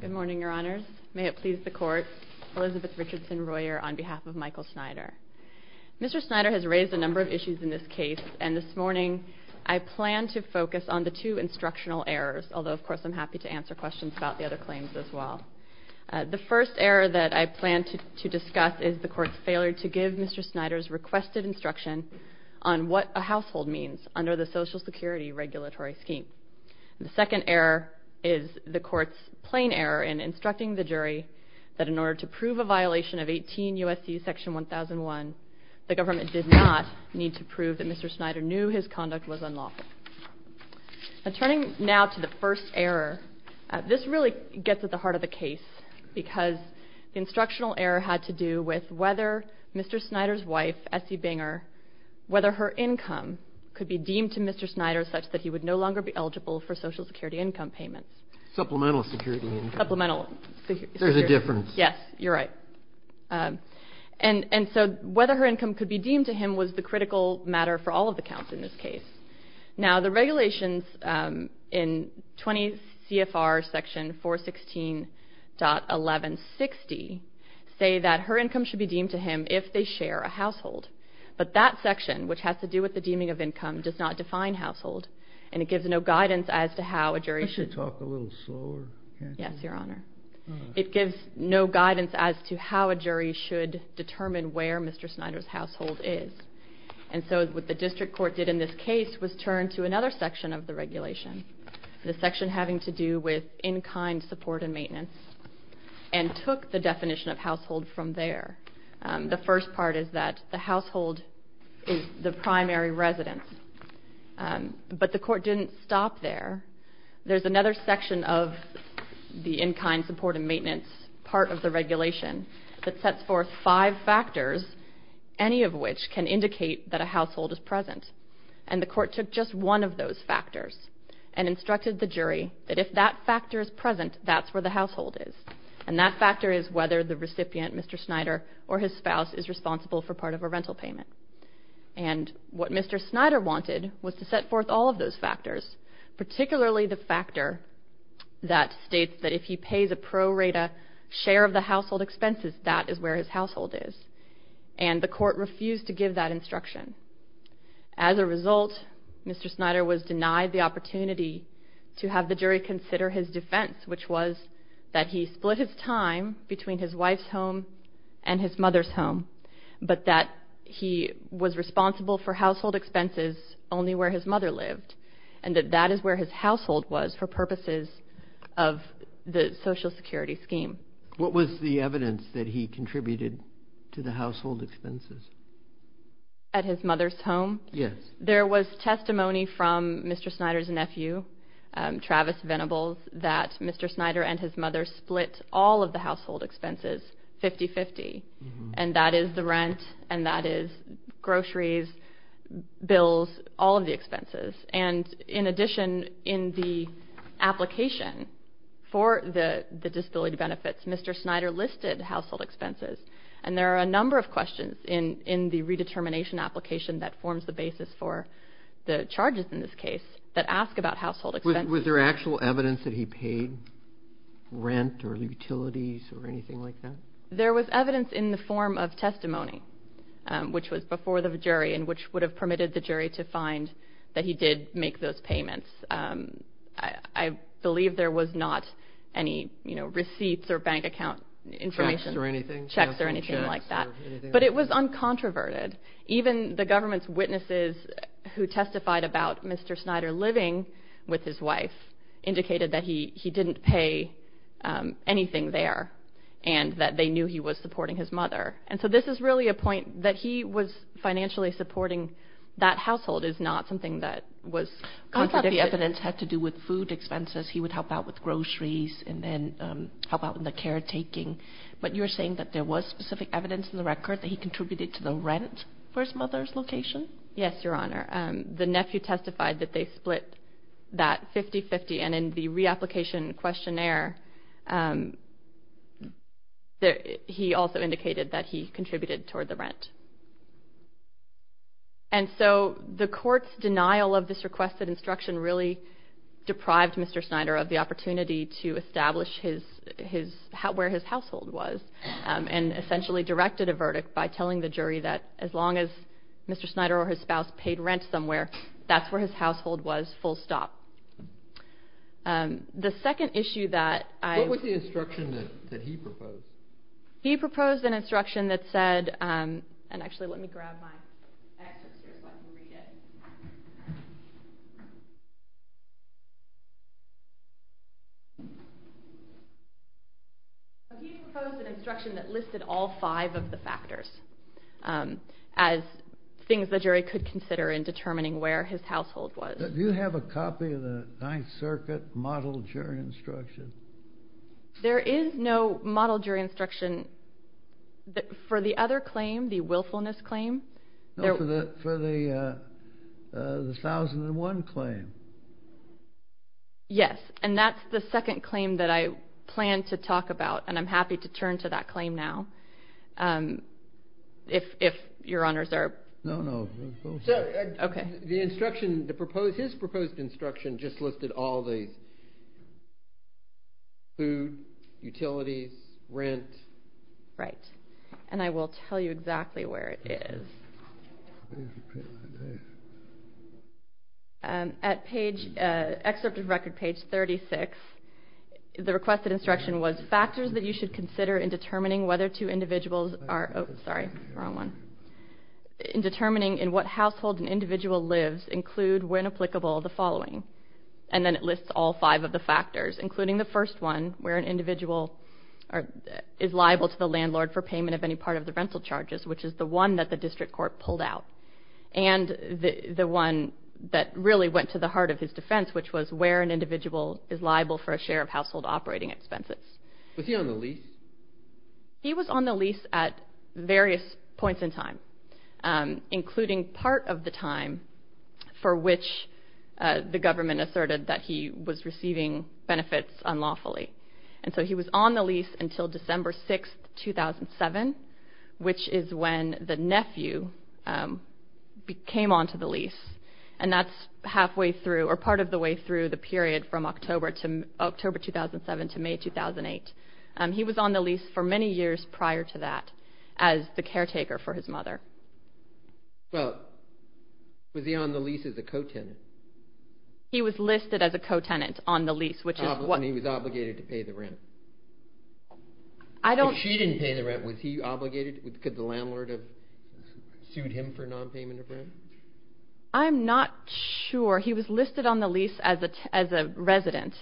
Good morning, your honors. May it please the court, Elizabeth Richardson Royer on behalf of Michael Snyder. Mr. Snyder has raised a number of issues in this case, and this morning I plan to focus on the two instructional errors, although of course I'm happy to answer questions about the other claims as well. The first error that I plan to discuss is the court's failure to give Mr. Snyder's requested instruction on what a household means under the Social Security regulatory scheme. The second error is the court's plain error in instructing the jury that in order to prove a violation of 18 U.S.C. section 1001, the government did not need to prove that Mr. Snyder knew his conduct was unlawful. Turning now to the first error, this really gets at the heart of the case, because the instructional error had to do with whether Mr. Snyder's wife, Essie Binger, whether her income could be deemed to Mr. Snyder such that he would no longer be eligible for Social Security income payments. Supplemental security. Supplemental security. There's a difference. Yes, you're right. And so whether her income could be deemed to him was the critical matter for all of the counts in this case. Now the regulations in 20 CFR section 416.1160 say that her income should be deemed to him if they share a household, but that section, which has to do with the deeming of income, does not define household, and it gives no guidance as to how a jury should determine where Mr. Snyder's household is. And so what the district court did in this case was turn to another section of the regulation, the section having to do with in-kind support and maintenance, and took the definition of household from there. The first part is that the household is the primary residence, but the court didn't stop there. There's another section of the in-kind support and maintenance part of the regulation that sets forth five factors, any of which can indicate that a household is present, and the court took just one of those factors and instructed the jury that if that factor is present, that's where the household is, and that factor is whether the recipient, Mr. Snyder, or his spouse is responsible for part of a rental payment. And what Mr. Snyder wanted was to set forth all of those factors, particularly the factor that states that if he pays a pro rata share of the household expenses, that is where his household is, and the court refused to give that instruction. As a result, Mr. Snyder was denied the opportunity to have the jury consider his defense, which was that he split his time between his wife's home and his mother's home, but that he was responsible for household expenses only where his mother lived, and that that is where his household was for purposes of the Social Security scheme. What was the evidence that he contributed to the household expenses? At his mother's home? Yes. There was testimony from Mr. Snyder's nephew, Travis Venables, that Mr. Snyder and his mother split all of the household expenses 50-50, and that is the rent, and that is groceries, bills, all of the expenses. And in addition, in the application for the disability benefits, Mr. Snyder listed household expenses, and there are a number of questions in the redetermination application that forms the basis for the charges in this case that ask about household expenses. Was there actual evidence that he paid rent or utilities or anything like that? There was evidence in the form of testimony, which was before the jury and which would have permitted the jury to find that he did make those payments. I believe there was not any, you know, receipts or bank account information. Checks or anything? Checks or anything like that. But it was uncontroverted. Even the government's witnesses who testified about Mr. Snyder living with his wife indicated that he didn't pay anything there and that they knew he was supporting his mother. And so this is really a point that he was financially supporting that household is not something that was contradicted. I thought the evidence had to do with food expenses. He would help out with groceries and then help out with the caretaking. But you're saying that there was specific evidence in the record that he contributed to the rent for his mother's location? Yes, Your Honor. The nephew testified that they split that 50-50, and in the reapplication questionnaire, he also indicated that he contributed toward the rent. And so the court's denial of this requested instruction really deprived Mr. Snyder of the opportunity to establish where his household was and essentially directed a verdict by telling the jury that as long as Mr. Snyder or his spouse paid rent somewhere, that's where his household was, full stop. The second issue that I... What was the instruction that he proposed? He proposed an instruction that said... And actually, let me grab my excerpt here so I can read it. He proposed an instruction that listed all five of the factors as things the jury could consider in determining where his household was. Do you have a copy of the Ninth Circuit model jury instruction? There is no model jury instruction for the other claim, the willfulness claim. No, for the 1001 claim. Yes, and that's the second claim that I plan to talk about, and I'm happy to turn to that claim now if Your Honors are... No, no. The instruction, his proposed instruction, just listed all the food, utilities, rent. Right, and I will tell you exactly where it is. At excerpt of record page 36, the requested instruction was factors that you should consider in determining whether two individuals are... Oh, sorry, wrong one. In determining in what household an individual lives include, when applicable, the following. And then it lists all five of the factors, including the first one, where an individual is liable to the landlord for payment of any part of the rental charges, which is the one that the district court pulled out. And the one that really went to the heart of his defense, which was where an individual is liable for a share of household operating expenses. Was he on the lease? He was on the lease at various points in time, including part of the time for which the government asserted that he was receiving benefits unlawfully. And so he was on the lease until December 6, 2007, which is when the nephew came onto the lease. And that's halfway through, or part of the way through, the period from October 2007 to May 2008. He was on the lease for many years prior to that as the caretaker for his mother. Well, was he on the lease as a co-tenant? He was listed as a co-tenant on the lease, which is what... And he was obligated to pay the rent. I don't... If she didn't pay the rent, was he obligated? Could the landlord have sued him for nonpayment of rent? I'm not sure. He was listed on the lease as a resident,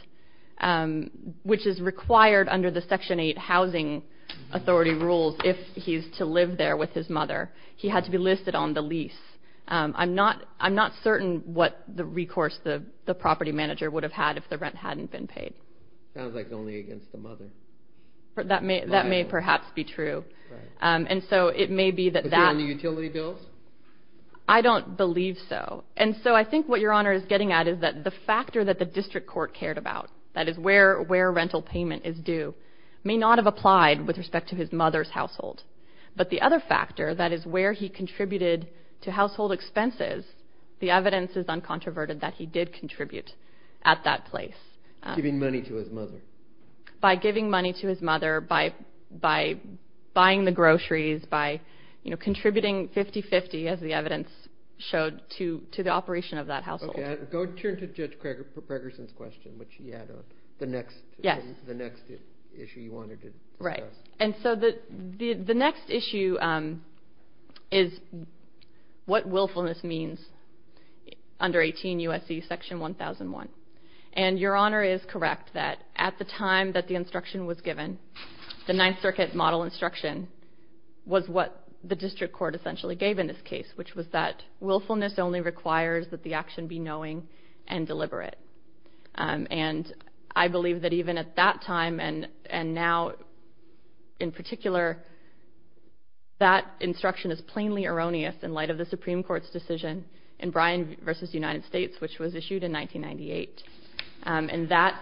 which is required under the Section 8 Housing Authority rules if he's to live there with his mother. He had to be listed on the lease. I'm not certain what the recourse the property manager would have had if the rent hadn't been paid. Sounds like it's only against the mother. That may perhaps be true. And so it may be that that... Was he on the utility bills? I don't believe so. And so I think what Your Honor is getting at is that the factor that the district court cared about, that is where rental payment is due, may not have applied with respect to his mother's household. But the other factor, that is where he contributed to household expenses, the evidence is uncontroverted that he did contribute at that place. Giving money to his mother. By giving money to his mother, by buying the groceries, by contributing 50-50, as the evidence showed, to the operation of that household. Go turn to Judge Gregersen's question, which he had on. The next issue you wanted to discuss. Right. And so the next issue is what willfulness means under 18 U.S.C. Section 1001. And Your Honor is correct that at the time that the instruction was given, the Ninth Circuit model instruction was what the district court essentially gave in this case, which was that willfulness only requires that the action be knowing and deliberate. And I believe that even at that time, and now in particular, that instruction is plainly erroneous in light of the Supreme Court's decision in Bryan v. United States, which was issued in 1998. And that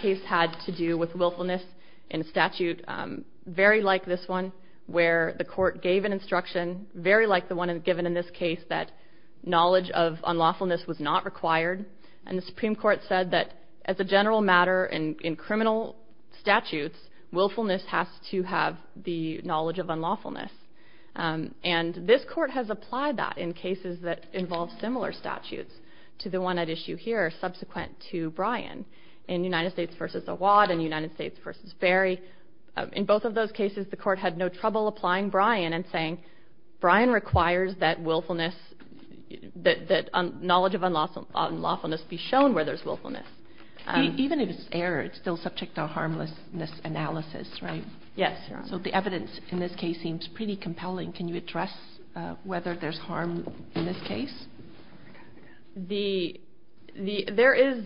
case had to do with willfulness in statute, very like this one where the court gave an instruction, very like the one given in this case that knowledge of unlawfulness was not required. And the Supreme Court said that as a general matter in criminal statutes, willfulness has to have the knowledge of unlawfulness. And this court has applied that in cases that involve similar statutes to the one at issue here subsequent to Bryan in United States v. Awad and United States v. Berry. In both of those cases, the court had no trouble applying Bryan and saying Bryan requires that willfulness, that knowledge of unlawfulness be shown where there's willfulness. Even if it's error, it's still subject to a harmlessness analysis, right? Yes. So the evidence in this case seems pretty compelling. Can you address whether there's harm in this case? There is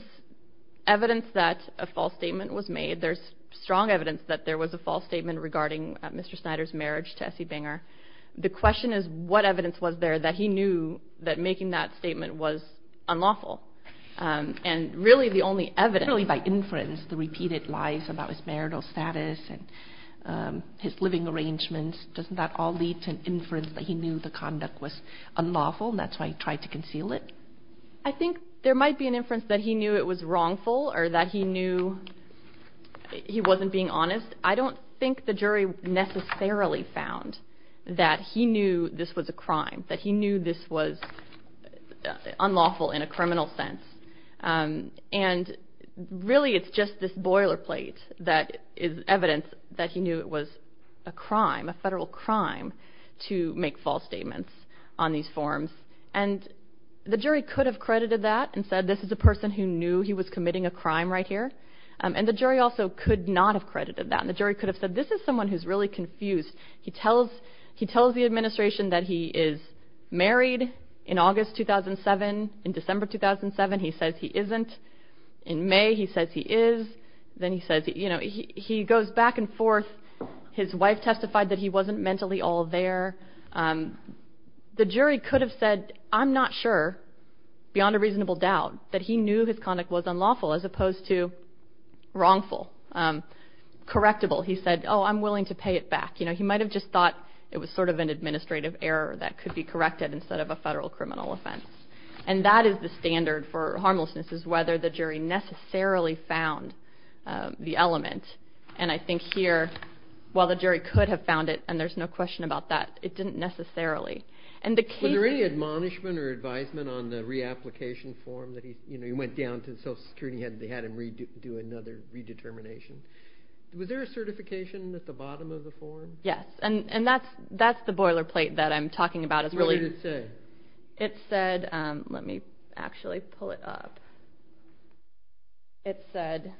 evidence that a false statement was made. There's strong evidence that there was a false statement regarding Mr. Snyder's marriage to S.E. Banger. The question is what evidence was there that he knew that making that statement was unlawful. And really the only evidence, really by inference, the repeated lies about his marital status and his living arrangements, doesn't that all lead to inference that he knew the conduct was unlawful and that's why he tried to conceal it? I think there might be an inference that he knew it was wrongful or that he knew he wasn't being honest. I don't think the jury necessarily found that he knew this was a crime, that he knew this was unlawful in a criminal sense. And really it's just this boilerplate that is evidence that he knew it was a crime, a federal crime, to make false statements on these forms. And the jury could have credited that and said this is a person who knew he was committing a crime right here. And the jury also could not have credited that. And the jury could have said this is someone who's really confused. He tells the administration that he is married in August 2007. In December 2007 he says he isn't. In May he says he is. Then he goes back and forth. His wife testified that he wasn't mentally all there. The jury could have said I'm not sure, beyond a reasonable doubt, that he knew his conduct was unlawful as opposed to wrongful, correctable. He said, oh, I'm willing to pay it back. He might have just thought it was sort of an administrative error that could be corrected instead of a federal criminal offense. And that is the standard for harmlessness, is whether the jury necessarily found the element. And I think here, while the jury could have found it, and there's no question about that, it didn't necessarily. Were there any admonishment or advisement on the reapplication form? You know, he went down to the Social Security and they had him do another redetermination. Was there a certification at the bottom of the form? Yes, and that's the boilerplate that I'm talking about. What did it say? It said, let me actually pull it up. It said,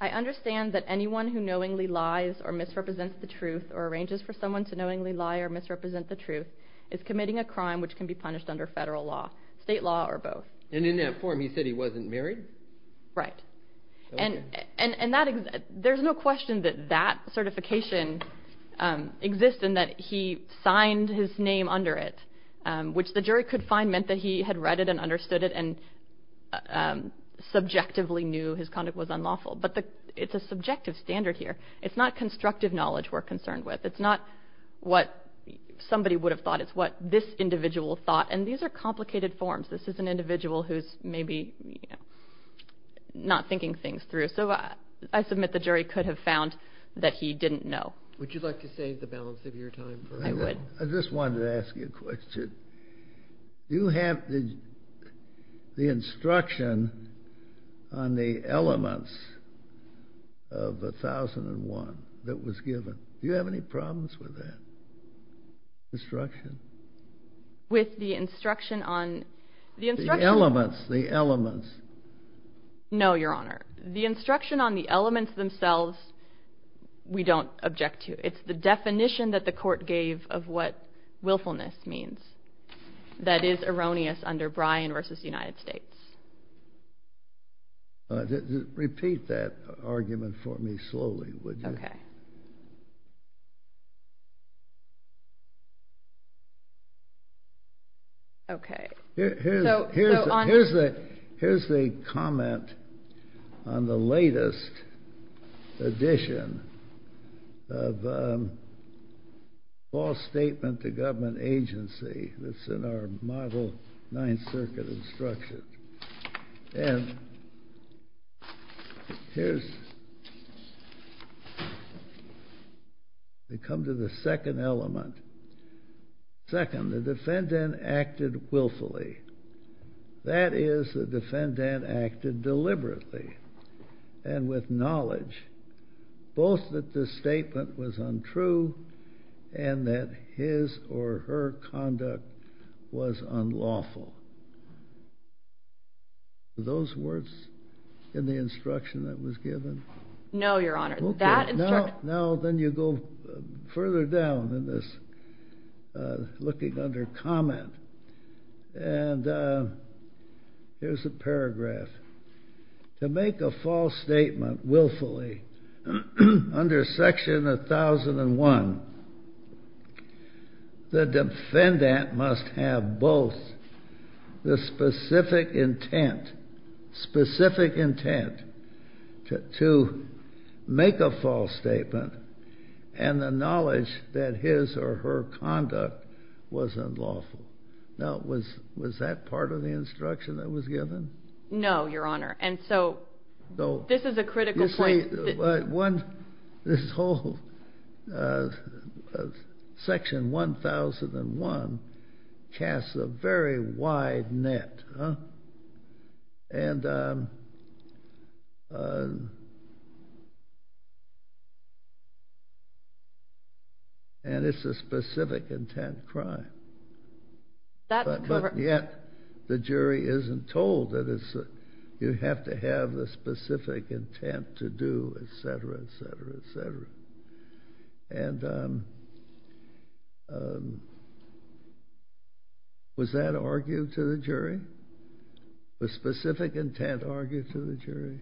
I understand that anyone who knowingly lies or misrepresents the truth or arranges for someone to knowingly lie or misrepresent the truth is committing a crime which can be punished under federal law, state law, or both. And in that form he said he wasn't married? Right. And there's no question that that certification exists and that he signed his name under it, which the jury could find meant that he had read it and understood it and subjectively knew his conduct was unlawful. But it's a subjective standard here. It's not constructive knowledge we're concerned with. It's not what somebody would have thought. It's what this individual thought, and these are complicated forms. This is an individual who's maybe not thinking things through. So I submit the jury could have found that he didn't know. Would you like to save the balance of your time? I would. I just wanted to ask you a question. Do you have the instruction on the elements of 1001 that was given? Do you have any problems with that instruction? With the instruction on the instruction? The elements, the elements. No, Your Honor. The instruction on the elements themselves we don't object to. It's the definition that the court gave of what willfulness means that is erroneous under Bryan v. United States. Repeat that argument for me slowly, would you? Okay. Okay. Here's the comment on the latest edition of false statement to government agency that's in our model Ninth Circuit instruction. And here's, we come to the second element. Second, the defendant acted willfully. That is, the defendant acted deliberately and with knowledge, both that the statement was untrue and that his or her conduct was unlawful. Are those words in the instruction that was given? No, Your Honor. Now then you go further down in this looking under comment. And here's a paragraph. To make a false statement willfully under Section 1001, the defendant must have both the specific intent, specific intent to make a false statement and the knowledge that his or her conduct was unlawful. Now was that part of the instruction that was given? No, Your Honor. And so this is a critical point. This whole Section 1001 casts a very wide net. And it's a specific intent crime. But yet the jury isn't told that you have to have the specific intent to do et cetera, et cetera, et cetera. And was that argued to the jury? Was specific intent argued to the jury?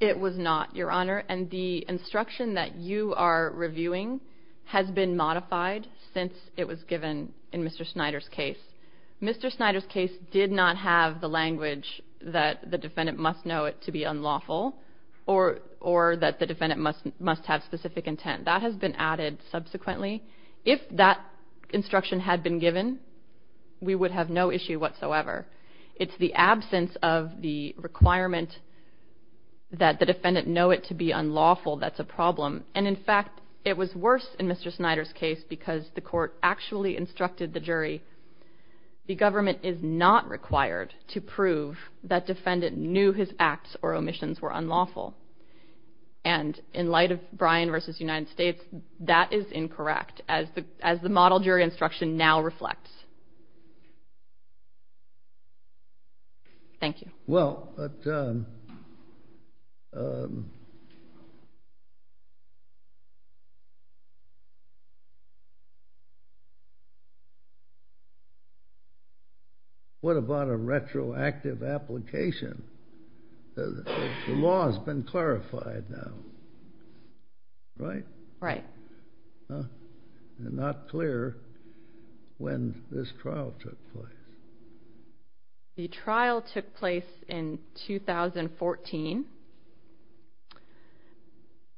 It was not, Your Honor. And the instruction that you are reviewing has been modified since it was given in Mr. Snyder's case. Mr. Snyder's case did not have the language that the defendant must know it to be unlawful or that the defendant must have specific intent. That has been added subsequently. If that instruction had been given, we would have no issue whatsoever. It's the absence of the requirement that the defendant know it to be unlawful that's a problem. And, in fact, it was worse in Mr. Snyder's case because the court actually instructed the jury the government is not required to prove that defendant knew his acts or omissions were unlawful. And in light of Bryan v. United States, that is incorrect as the model jury instruction now reflects. Thank you. Well, what about a retroactive application? The law has been clarified now, right? Right. Not clear when this trial took place. The trial took place in 2014,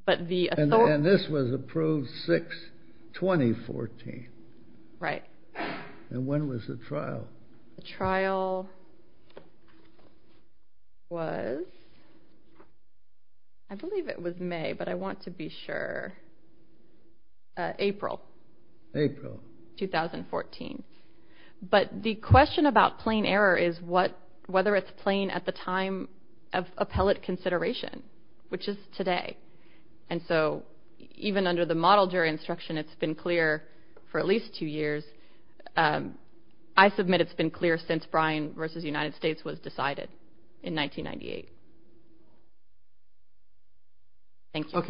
but the authority... And this was approved 6, 2014. Right. And when was the trial? The trial was, I believe it was May, but I want to be sure, April. April. 2014. But the question about plain error is whether it's plain at the time of appellate consideration, which is today. And so even under the model jury instruction, it's been clear for at least 2 years. I submit it's been clear since Bryan v. United States was decided in 1998. Thank you. I'll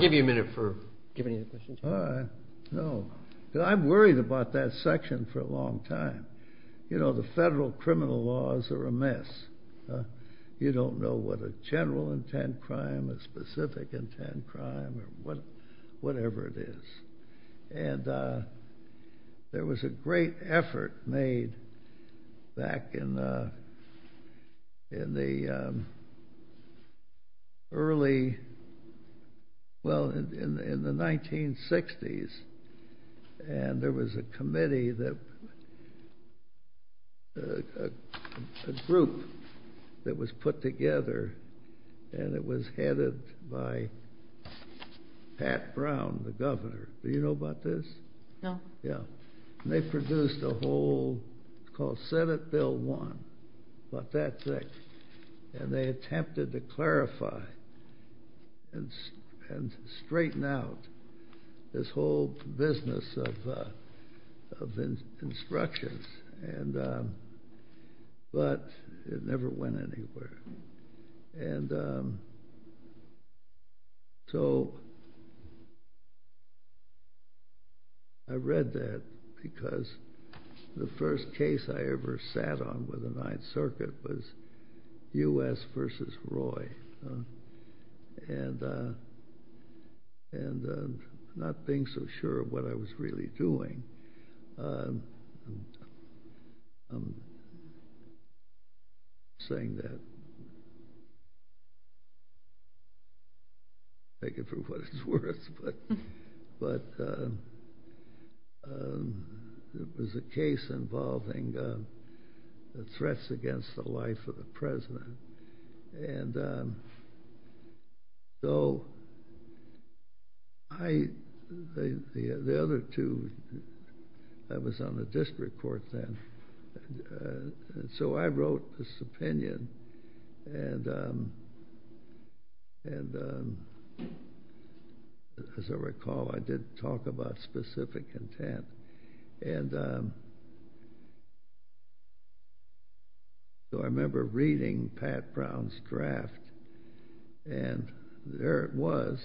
give you a minute for giving any questions. I'm worried about that section for a long time. You know, the federal criminal laws are a mess. You don't know what a general intent crime, a specific intent crime, or whatever it is. And there was a great effort made back in the early, well, in the 1960s, and there was a committee that, a group that was put together, and it was headed by Pat Brown, the governor. Do you know about this? No. Yeah. And they produced a whole called Senate Bill 1, about that thick, and they attempted to clarify and straighten out this whole business of instructions, but it never went anywhere. And so I read that because the first case I ever sat on with the Ninth Circuit was U.S. v. Roy. And not being so sure of what I was really doing, I'm saying that, take it for what it's worth, but it was a case involving threats against the life of the president. And so the other two, I was on the district court then, and so I wrote this opinion, and as I recall, I did talk about specific intent. And so I remember reading Pat Brown's draft, and there it was,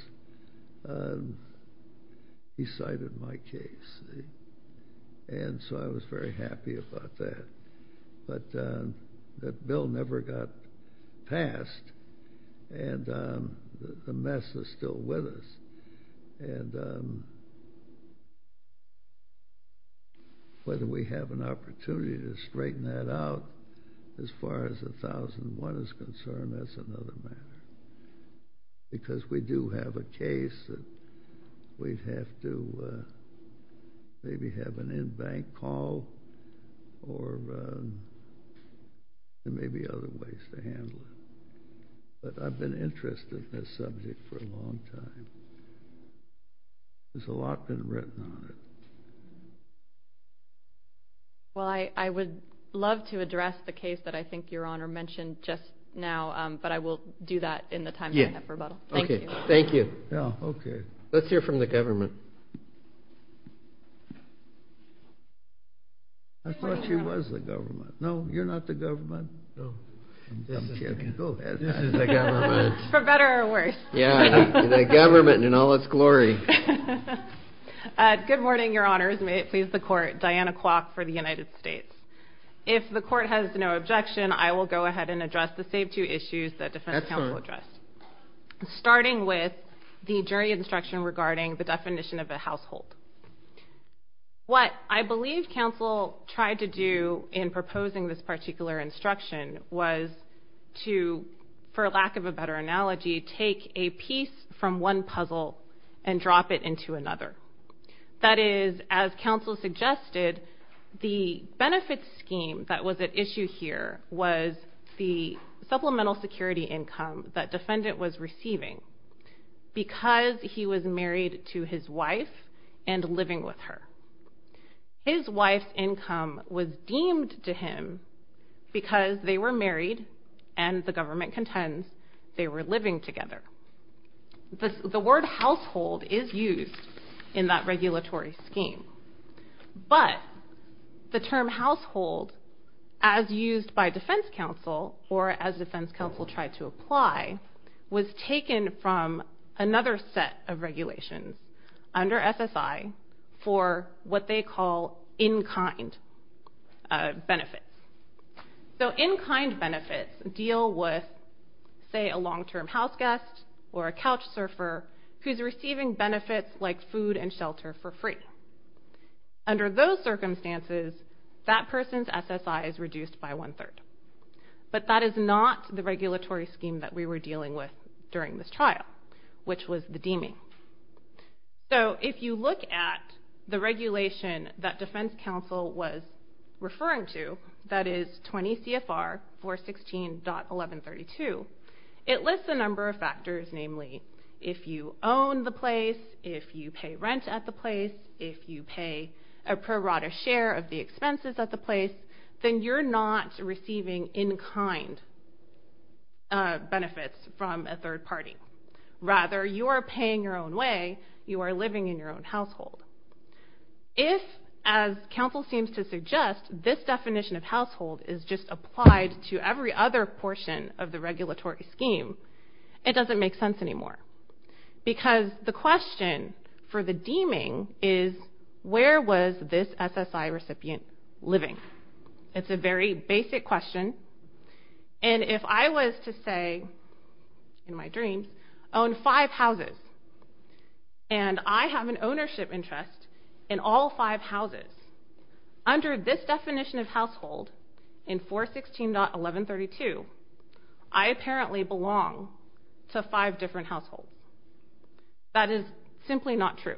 he cited my case. And so I was very happy about that. But that bill never got passed, and the mess is still with us. And whether we have an opportunity to straighten that out, as far as 1001 is concerned, that's another matter. Because we do have a case that we'd have to maybe have an in-bank call or there may be other ways to handle it. But I've been interested in this subject for a long time. There's a lot been written on it. Well, I would love to address the case that I think Your Honor mentioned just now, but I will do that in the time I have for rebuttal. Thank you. Thank you. Let's hear from the government. I thought she was the government. No, you're not the government. This is the government. For better or worse. Yeah, the government in all its glory. Good morning, Your Honors. May it please the Court. Diana Kwok for the United States. If the Court has no objection, I will go ahead and address the same two issues that defense counsel addressed, starting with the jury instruction regarding the definition of a household. What I believe counsel tried to do in proposing this particular instruction was to, for lack of a better analogy, take a piece from one puzzle and drop it into another. That is, as counsel suggested, the benefits scheme that was at issue here was the supplemental security income that defendant was receiving. Because he was married to his wife and living with her. His wife's income was deemed to him because they were married and, the government contends, they were living together. The word household is used in that regulatory scheme, but the term household, as used by defense counsel or as defense counsel tried to apply, was taken from another set of regulations under SSI for what they call in-kind benefits. So in-kind benefits deal with, say, a long-term house guest or a couch surfer who's receiving benefits like food and shelter for free. Under those circumstances, that person's SSI is reduced by one-third. But that is not the regulatory scheme that we were dealing with during this trial, which was the deeming. So if you look at the regulation that defense counsel was referring to, that is 20 CFR 416.1132, it lists a number of factors, namely if you own the place, if you pay rent at the place, if you pay a prorata share of the expenses at the place, then you're not receiving in-kind benefits from a third party. Rather, you are paying your own way, you are living in your own household. If, as counsel seems to suggest, this definition of household is just applied to every other portion of the regulatory scheme, it doesn't make sense anymore. Because the question for the deeming is, where was this SSI recipient living? It's a very basic question. And if I was to say, in my dreams, own five houses, and I have an ownership interest in all five houses, under this definition of household in 416.1132, I apparently belong to five different households. That is simply not true.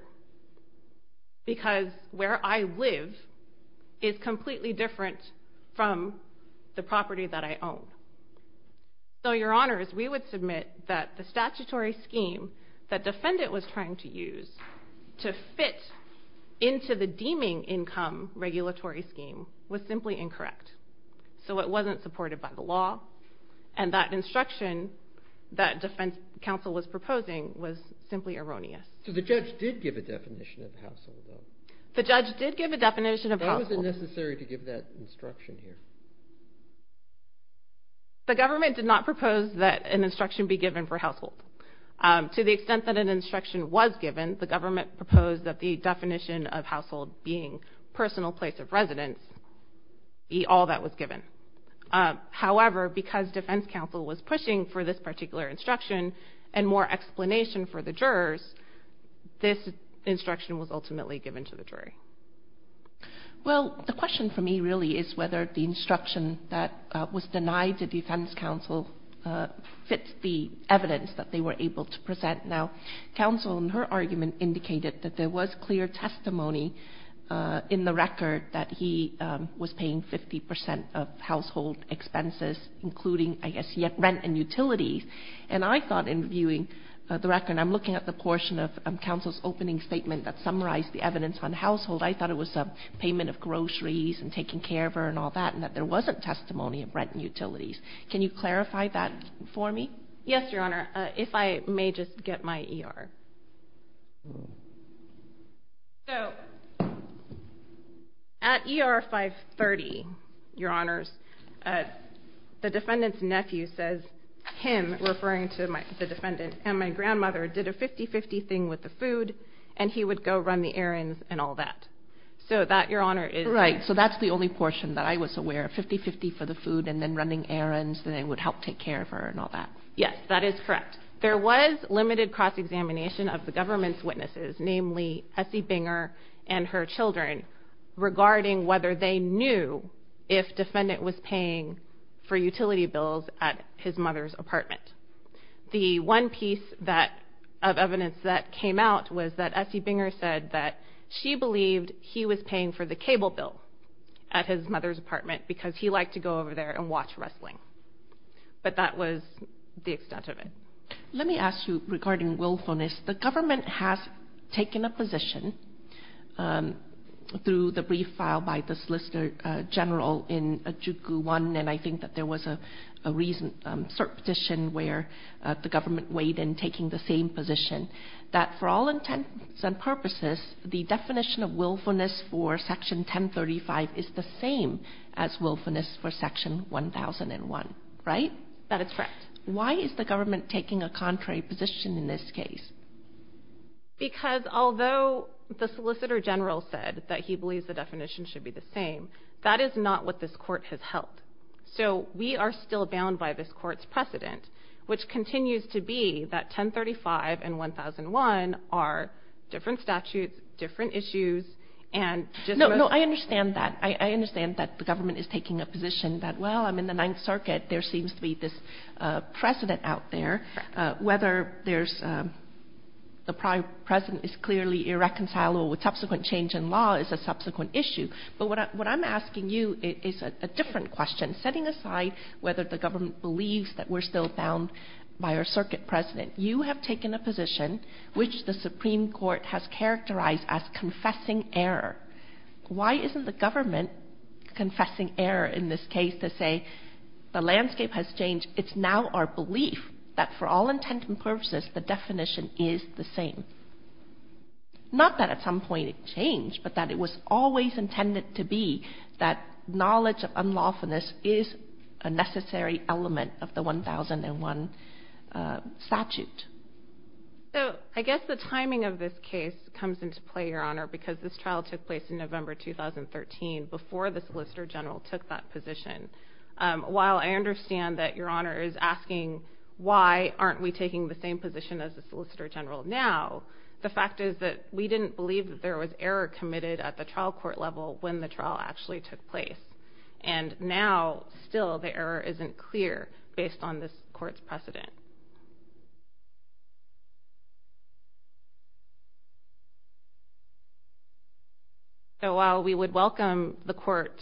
Because where I live is completely different from the property that I own. So, Your Honors, we would submit that the statutory scheme that defendant was trying to use to fit into the deeming income regulatory scheme was simply incorrect. So it wasn't supported by the law, and that instruction that defense counsel was proposing was simply erroneous. So the judge did give a definition of household, though? The judge did give a definition of household. Why was it necessary to give that instruction here? The government did not propose that an instruction be given for household. To the extent that an instruction was given, the government proposed that the definition of household being personal place of residence, be all that was given. However, because defense counsel was pushing for this particular instruction and more explanation for the jurors, this instruction was ultimately given to the jury. Well, the question for me really is whether the instruction that was denied to defense counsel fits the evidence that they were able to present. Now, counsel in her argument indicated that there was clear testimony in the record that he was paying 50% of household expenses, including, I guess, rent and utilities. And I thought in viewing the record, and I'm looking at the portion of counsel's opening statement that summarized the evidence on household, I thought it was payment of groceries and taking care of her and all that, and that there wasn't testimony of rent and utilities. Can you clarify that for me? Yes, Your Honor, if I may just get my ER. So, at ER 530, Your Honors, the defendant's nephew says him, referring to the defendant, and my grandmother did a 50-50 thing with the food, and he would go run the errands and all that. So that, Your Honor, is... Right, so that's the only portion that I was aware of, 50-50 for the food and then running errands, and they would help take care of her and all that. Yes, that is correct. There was limited cross-examination of the government's witnesses, namely Essie Binger and her children, regarding whether they knew if defendant was paying for utility bills at his mother's apartment. The one piece of evidence that came out was that Essie Binger said that she believed he was paying for the cable bill at his mother's apartment because he liked to go over there and watch wrestling. But that was the extent of it. Let me ask you regarding willfulness. The government has taken a position, through the brief filed by the Solicitor General in Juku 1, and I think that there was a recent cert petition where the government weighed in taking the same position, that for all intents and purposes, the definition of willfulness for Section 1035 is the same as willfulness for Section 1001, right? That is correct. Why is the government taking a contrary position in this case? Because although the Solicitor General said that he believes the definition should be the same, that is not what this Court has held. So we are still bound by this Court's precedent, which continues to be that 1035 and 1001 are different statutes, different issues, and just most... I understand that the government is taking a position that, well, I'm in the Ninth Circuit. There seems to be this precedent out there. Whether the precedent is clearly irreconcilable with subsequent change in law is a subsequent issue. But what I'm asking you is a different question. Setting aside whether the government believes that we're still bound by our circuit precedent, you have taken a position which the Supreme Court has characterized as confessing error. Why isn't the government confessing error in this case to say the landscape has changed? It's now our belief that for all intent and purposes, the definition is the same. Not that at some point it changed, but that it was always intended to be that knowledge of unlawfulness is a necessary element of the 1001 statute. So I guess the timing of this case comes into play, Your Honor, because this trial took place in November 2013 before the Solicitor General took that position. While I understand that Your Honor is asking why aren't we taking the same position as the Solicitor General now, the fact is that we didn't believe that there was error committed at the trial court level when the trial actually took place. based on this court's precedent. So while we would welcome the court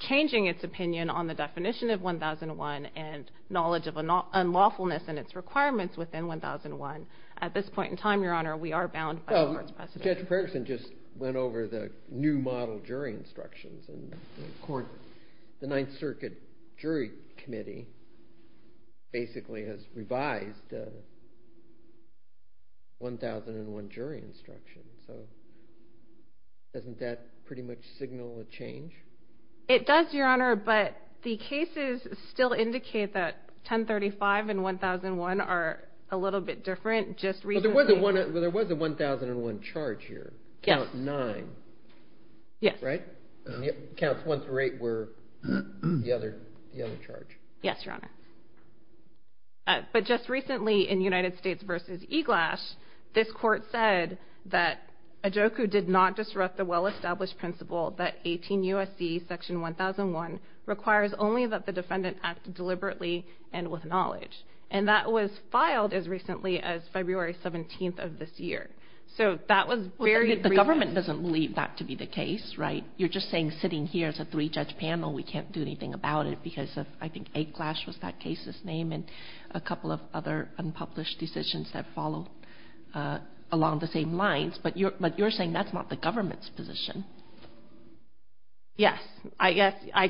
changing its opinion on the definition of 1001 and knowledge of unlawfulness and its requirements within 1001, at this point in time, Your Honor, we are bound by the court's precedent. Judge Ferguson just went over the new model jury instructions, and the Ninth Circuit Jury Committee basically has revised 1001 jury instructions. So doesn't that pretty much signal a change? It does, Your Honor, but the cases still indicate that 1035 and 1001 are a little bit different. Well, there was a 1001 charge here. Yes. Count 9. Yes. Right? Counts 1 through 8 were the other charge. Yes, Your Honor. But just recently in United States v. Eglash, this court said that Ajoku did not disrupt the well-established principle that 18 U.S.C. section 1001 requires only that the defendant act deliberately and with knowledge, and that was filed as recently as February 17th of this year. So that was very brief. The government doesn't believe that to be the case, right? You're just saying sitting here as a three-judge panel we can't do anything about it because of, I think, Eglash was that case's name and a couple of other unpublished decisions that follow along the same lines, but you're saying that's not the government's position. Yes. I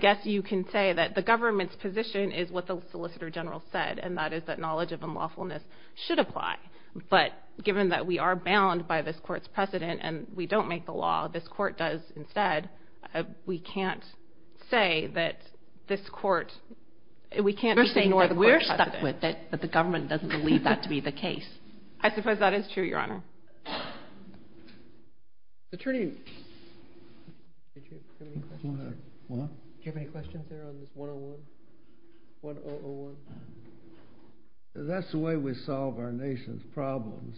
guess you can say that the government's position is what the Solicitor General said, and that is that knowledge of unlawfulness should apply, but given that we are bound by this court's precedent and we don't make the law, this court does instead. We can't say that this court We can't just say we're stuck with it, that the government doesn't believe that to be the case. I suppose that is true, Your Honor. Attorney, do you have any questions there on this 101? That's the way we solve our nation's problems.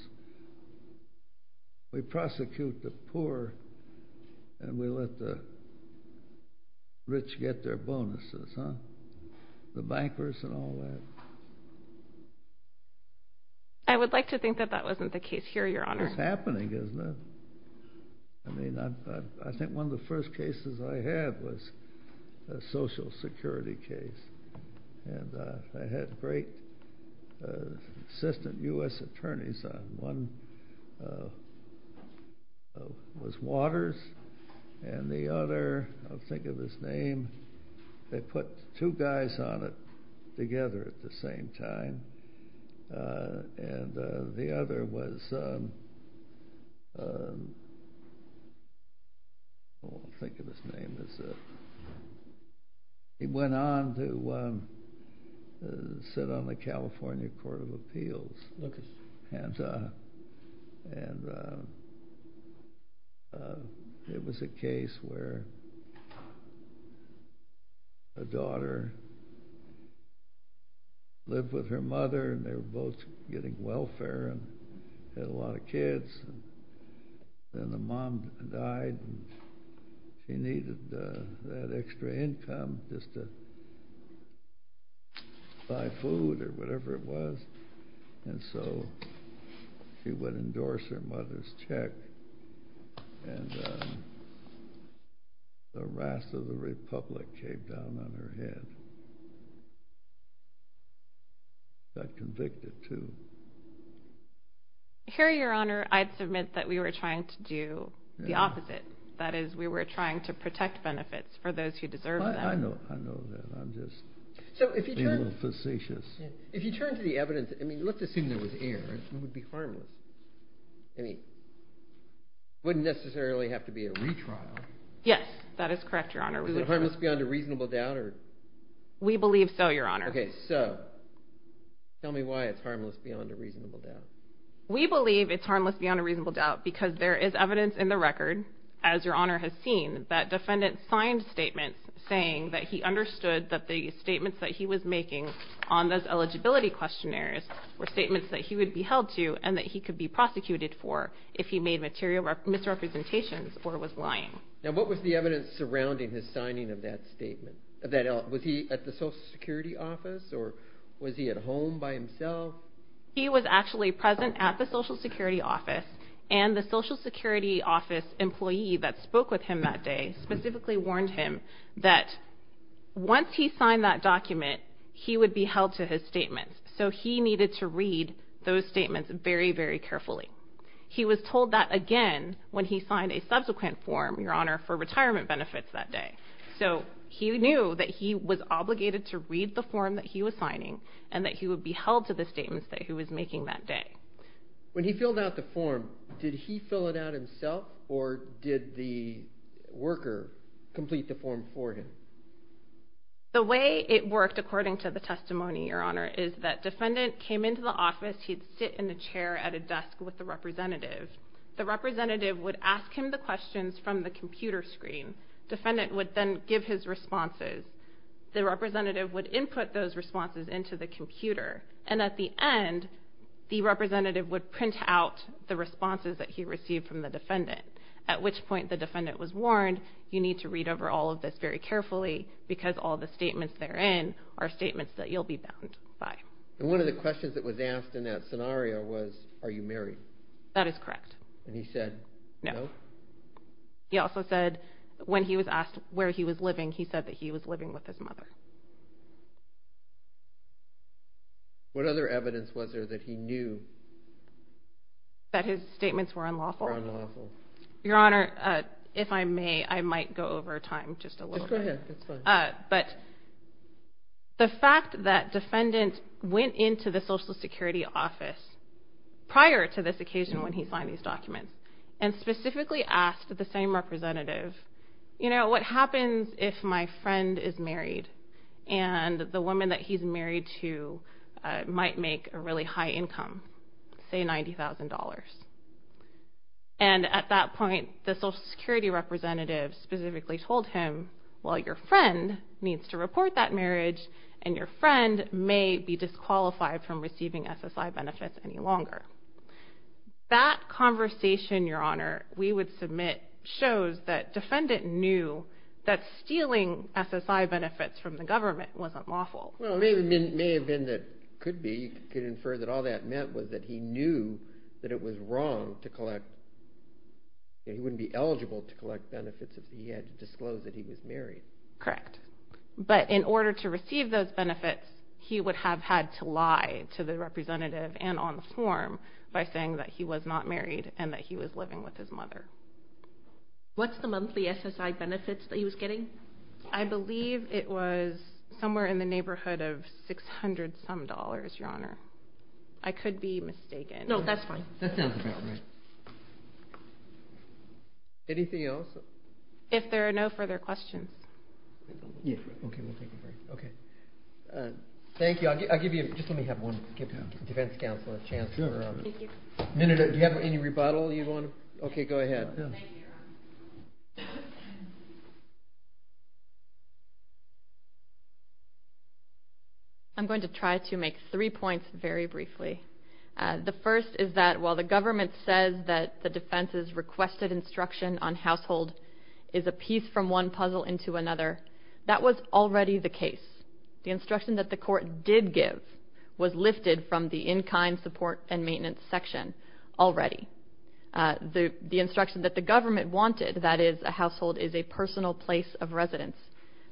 We prosecute the poor and we let the rich get their bonuses, the bankers and all that. I would like to think that that wasn't the case here, Your Honor. It's happening, isn't it? I think one of the first cases I had was a Social Security case, and I had great assistant U.S. attorneys. One was Waters and the other, I'll think of his name, they put two guys on it together at the same time, and the other was, I'll think of his name, he went on to sit on the California Court of Appeals and it was a case where a daughter lived with her mother and they were both getting welfare and had a lot of kids. Then the mom died and she needed that extra income just to buy food or whatever it was. And so she would endorse her mother's check and the rest of the republic came down on her head. Got convicted, too. Here, Your Honor, I'd submit that we were trying to do the opposite. That is, we were trying to protect benefits for those who deserve them. I know that. I'm just being a little facetious. If you turn to the evidence, let's assume there was error. It would be harmless. It wouldn't necessarily have to be a retrial. Yes, that is correct, Your Honor. Is it harmless beyond a reasonable doubt? We believe so, Your Honor. Okay, so tell me why it's harmless beyond a reasonable doubt. We believe it's harmless beyond a reasonable doubt because there is evidence in the record, as Your Honor has seen, that defendants signed statements saying that he understood that the statements that he was making on those eligibility questionnaires were statements that he would be held to and that he could be prosecuted for if he made misrepresentations or was lying. Now, what was the evidence surrounding his signing of that statement? Was he at the Social Security office or was he at home by himself? He was actually present at the Social Security office, and the Social Security office employee that spoke with him that day specifically warned him that once he signed that document, he would be held to his statements, so he needed to read those statements very, very carefully. He was told that again when he signed a subsequent form, Your Honor, for retirement benefits that day. So he knew that he was obligated to read the form that he was signing and that he would be held to the statements that he was making that day. When he filled out the form, did he fill it out himself or did the worker complete the form for him? The way it worked, according to the testimony, Your Honor, is that defendant came into the office. He'd sit in the chair at a desk with the representative. The representative would ask him the questions from the computer screen. Defendant would then give his responses. The representative would input those responses into the computer, and at the end, the representative would print out the responses that he received from the defendant, at which point the defendant was warned, you need to read over all of this very carefully because all the statements therein are statements that you'll be bound by. And one of the questions that was asked in that scenario was, are you married? That is correct. And he said no. He also said when he was asked where he was living, he said that he was living with his mother. What other evidence was there that he knew? That his statements were unlawful? Unlawful. Your Honor, if I may, I might go over time just a little bit. Just go ahead. That's fine. But the fact that defendant went into the Social Security office prior to this occasion when he signed these documents and specifically asked the same representative, you know, what happens if my friend is married and the woman that he's married to might make a really high income, say $90,000. And at that point, the Social Security representative specifically told him, well, your friend needs to report that marriage and your friend may be disqualified from receiving SSI benefits any longer. That conversation, Your Honor, we would submit shows that defendant knew that stealing SSI benefits from the government wasn't lawful. Well, it may have been that it could be. You could infer that all that meant was that he knew that it was wrong to collect. He wouldn't be eligible to collect benefits if he had to disclose that he was married. Correct. But in order to receive those benefits, he would have had to lie to the representative and on the form What's the monthly SSI benefits that he was getting? I believe it was somewhere in the neighborhood of $600-some, Your Honor. I could be mistaken. No, that's fine. That sounds about right. Anything else? If there are no further questions. Okay, we'll take it from here. Thank you. I'll give you, just let me have one, Defense Counselor, Chancellor. Do you have any rebuttal you want to? Okay, go ahead. Thank you, Your Honor. I'm going to try to make three points very briefly. The first is that while the government says that the defense's requested instruction on household is a piece from one puzzle into another, that was already the case. The instruction that the court did give was lifted from the in-kind support and maintenance section already. The instruction that the government wanted, that is, a household is a personal place of residence,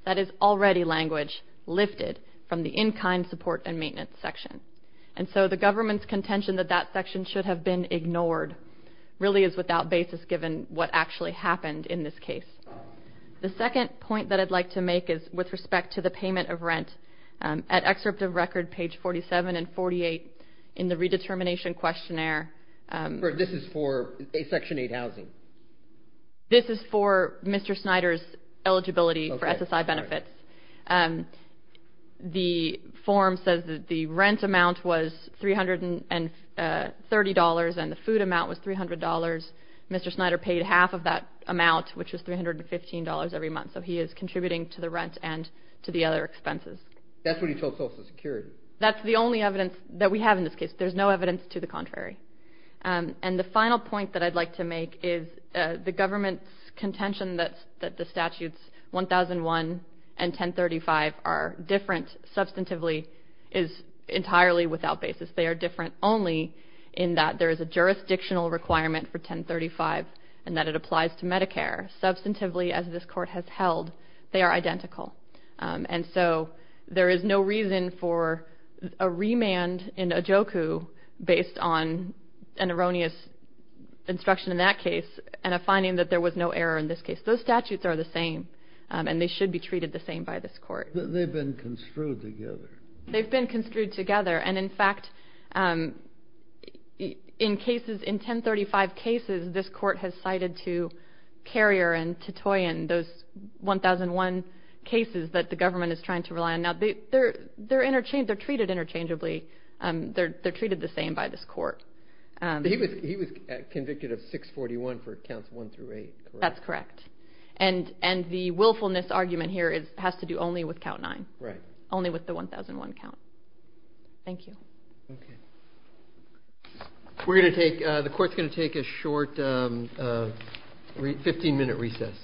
that is already language lifted from the in-kind support and maintenance section. And so the government's contention that that section should have been ignored really is without basis given what actually happened in this case. The second point that I'd like to make is with respect to the payment of rent. At excerpt of record, page 47 and 48 in the redetermination questionnaire. This is for Section 8 housing? This is for Mr. Snyder's eligibility for SSI benefits. The form says that the rent amount was $330 and the food amount was $300. Mr. Snyder paid half of that amount, which was $315 every month. So he is contributing to the rent and to the other expenses. That's what he told Social Security? That's the only evidence that we have in this case. There's no evidence to the contrary. And the final point that I'd like to make is the government's contention that the statutes 1001 and 1035 are different substantively is entirely without basis. They are different only in that there is a jurisdictional requirement for 1035 and that it applies to Medicare. Substantively, as this court has held, they are identical. And so there is no reason for a remand in OJOCU based on an erroneous instruction in that case and a finding that there was no error in this case. Those statutes are the same and they should be treated the same by this court. They've been construed together. They've been construed together. And, in fact, in 1035 cases, this court has cited to Carrier and to Toyin those 1001 cases that the government is trying to rely on. Now, they're treated interchangeably. They're treated the same by this court. He was convicted of 641 for counts 1 through 8, correct? That's correct. And the willfulness argument here has to do only with count 9, only with the 1001 count. Thank you. Okay. We're going to take a short 15-minute recess.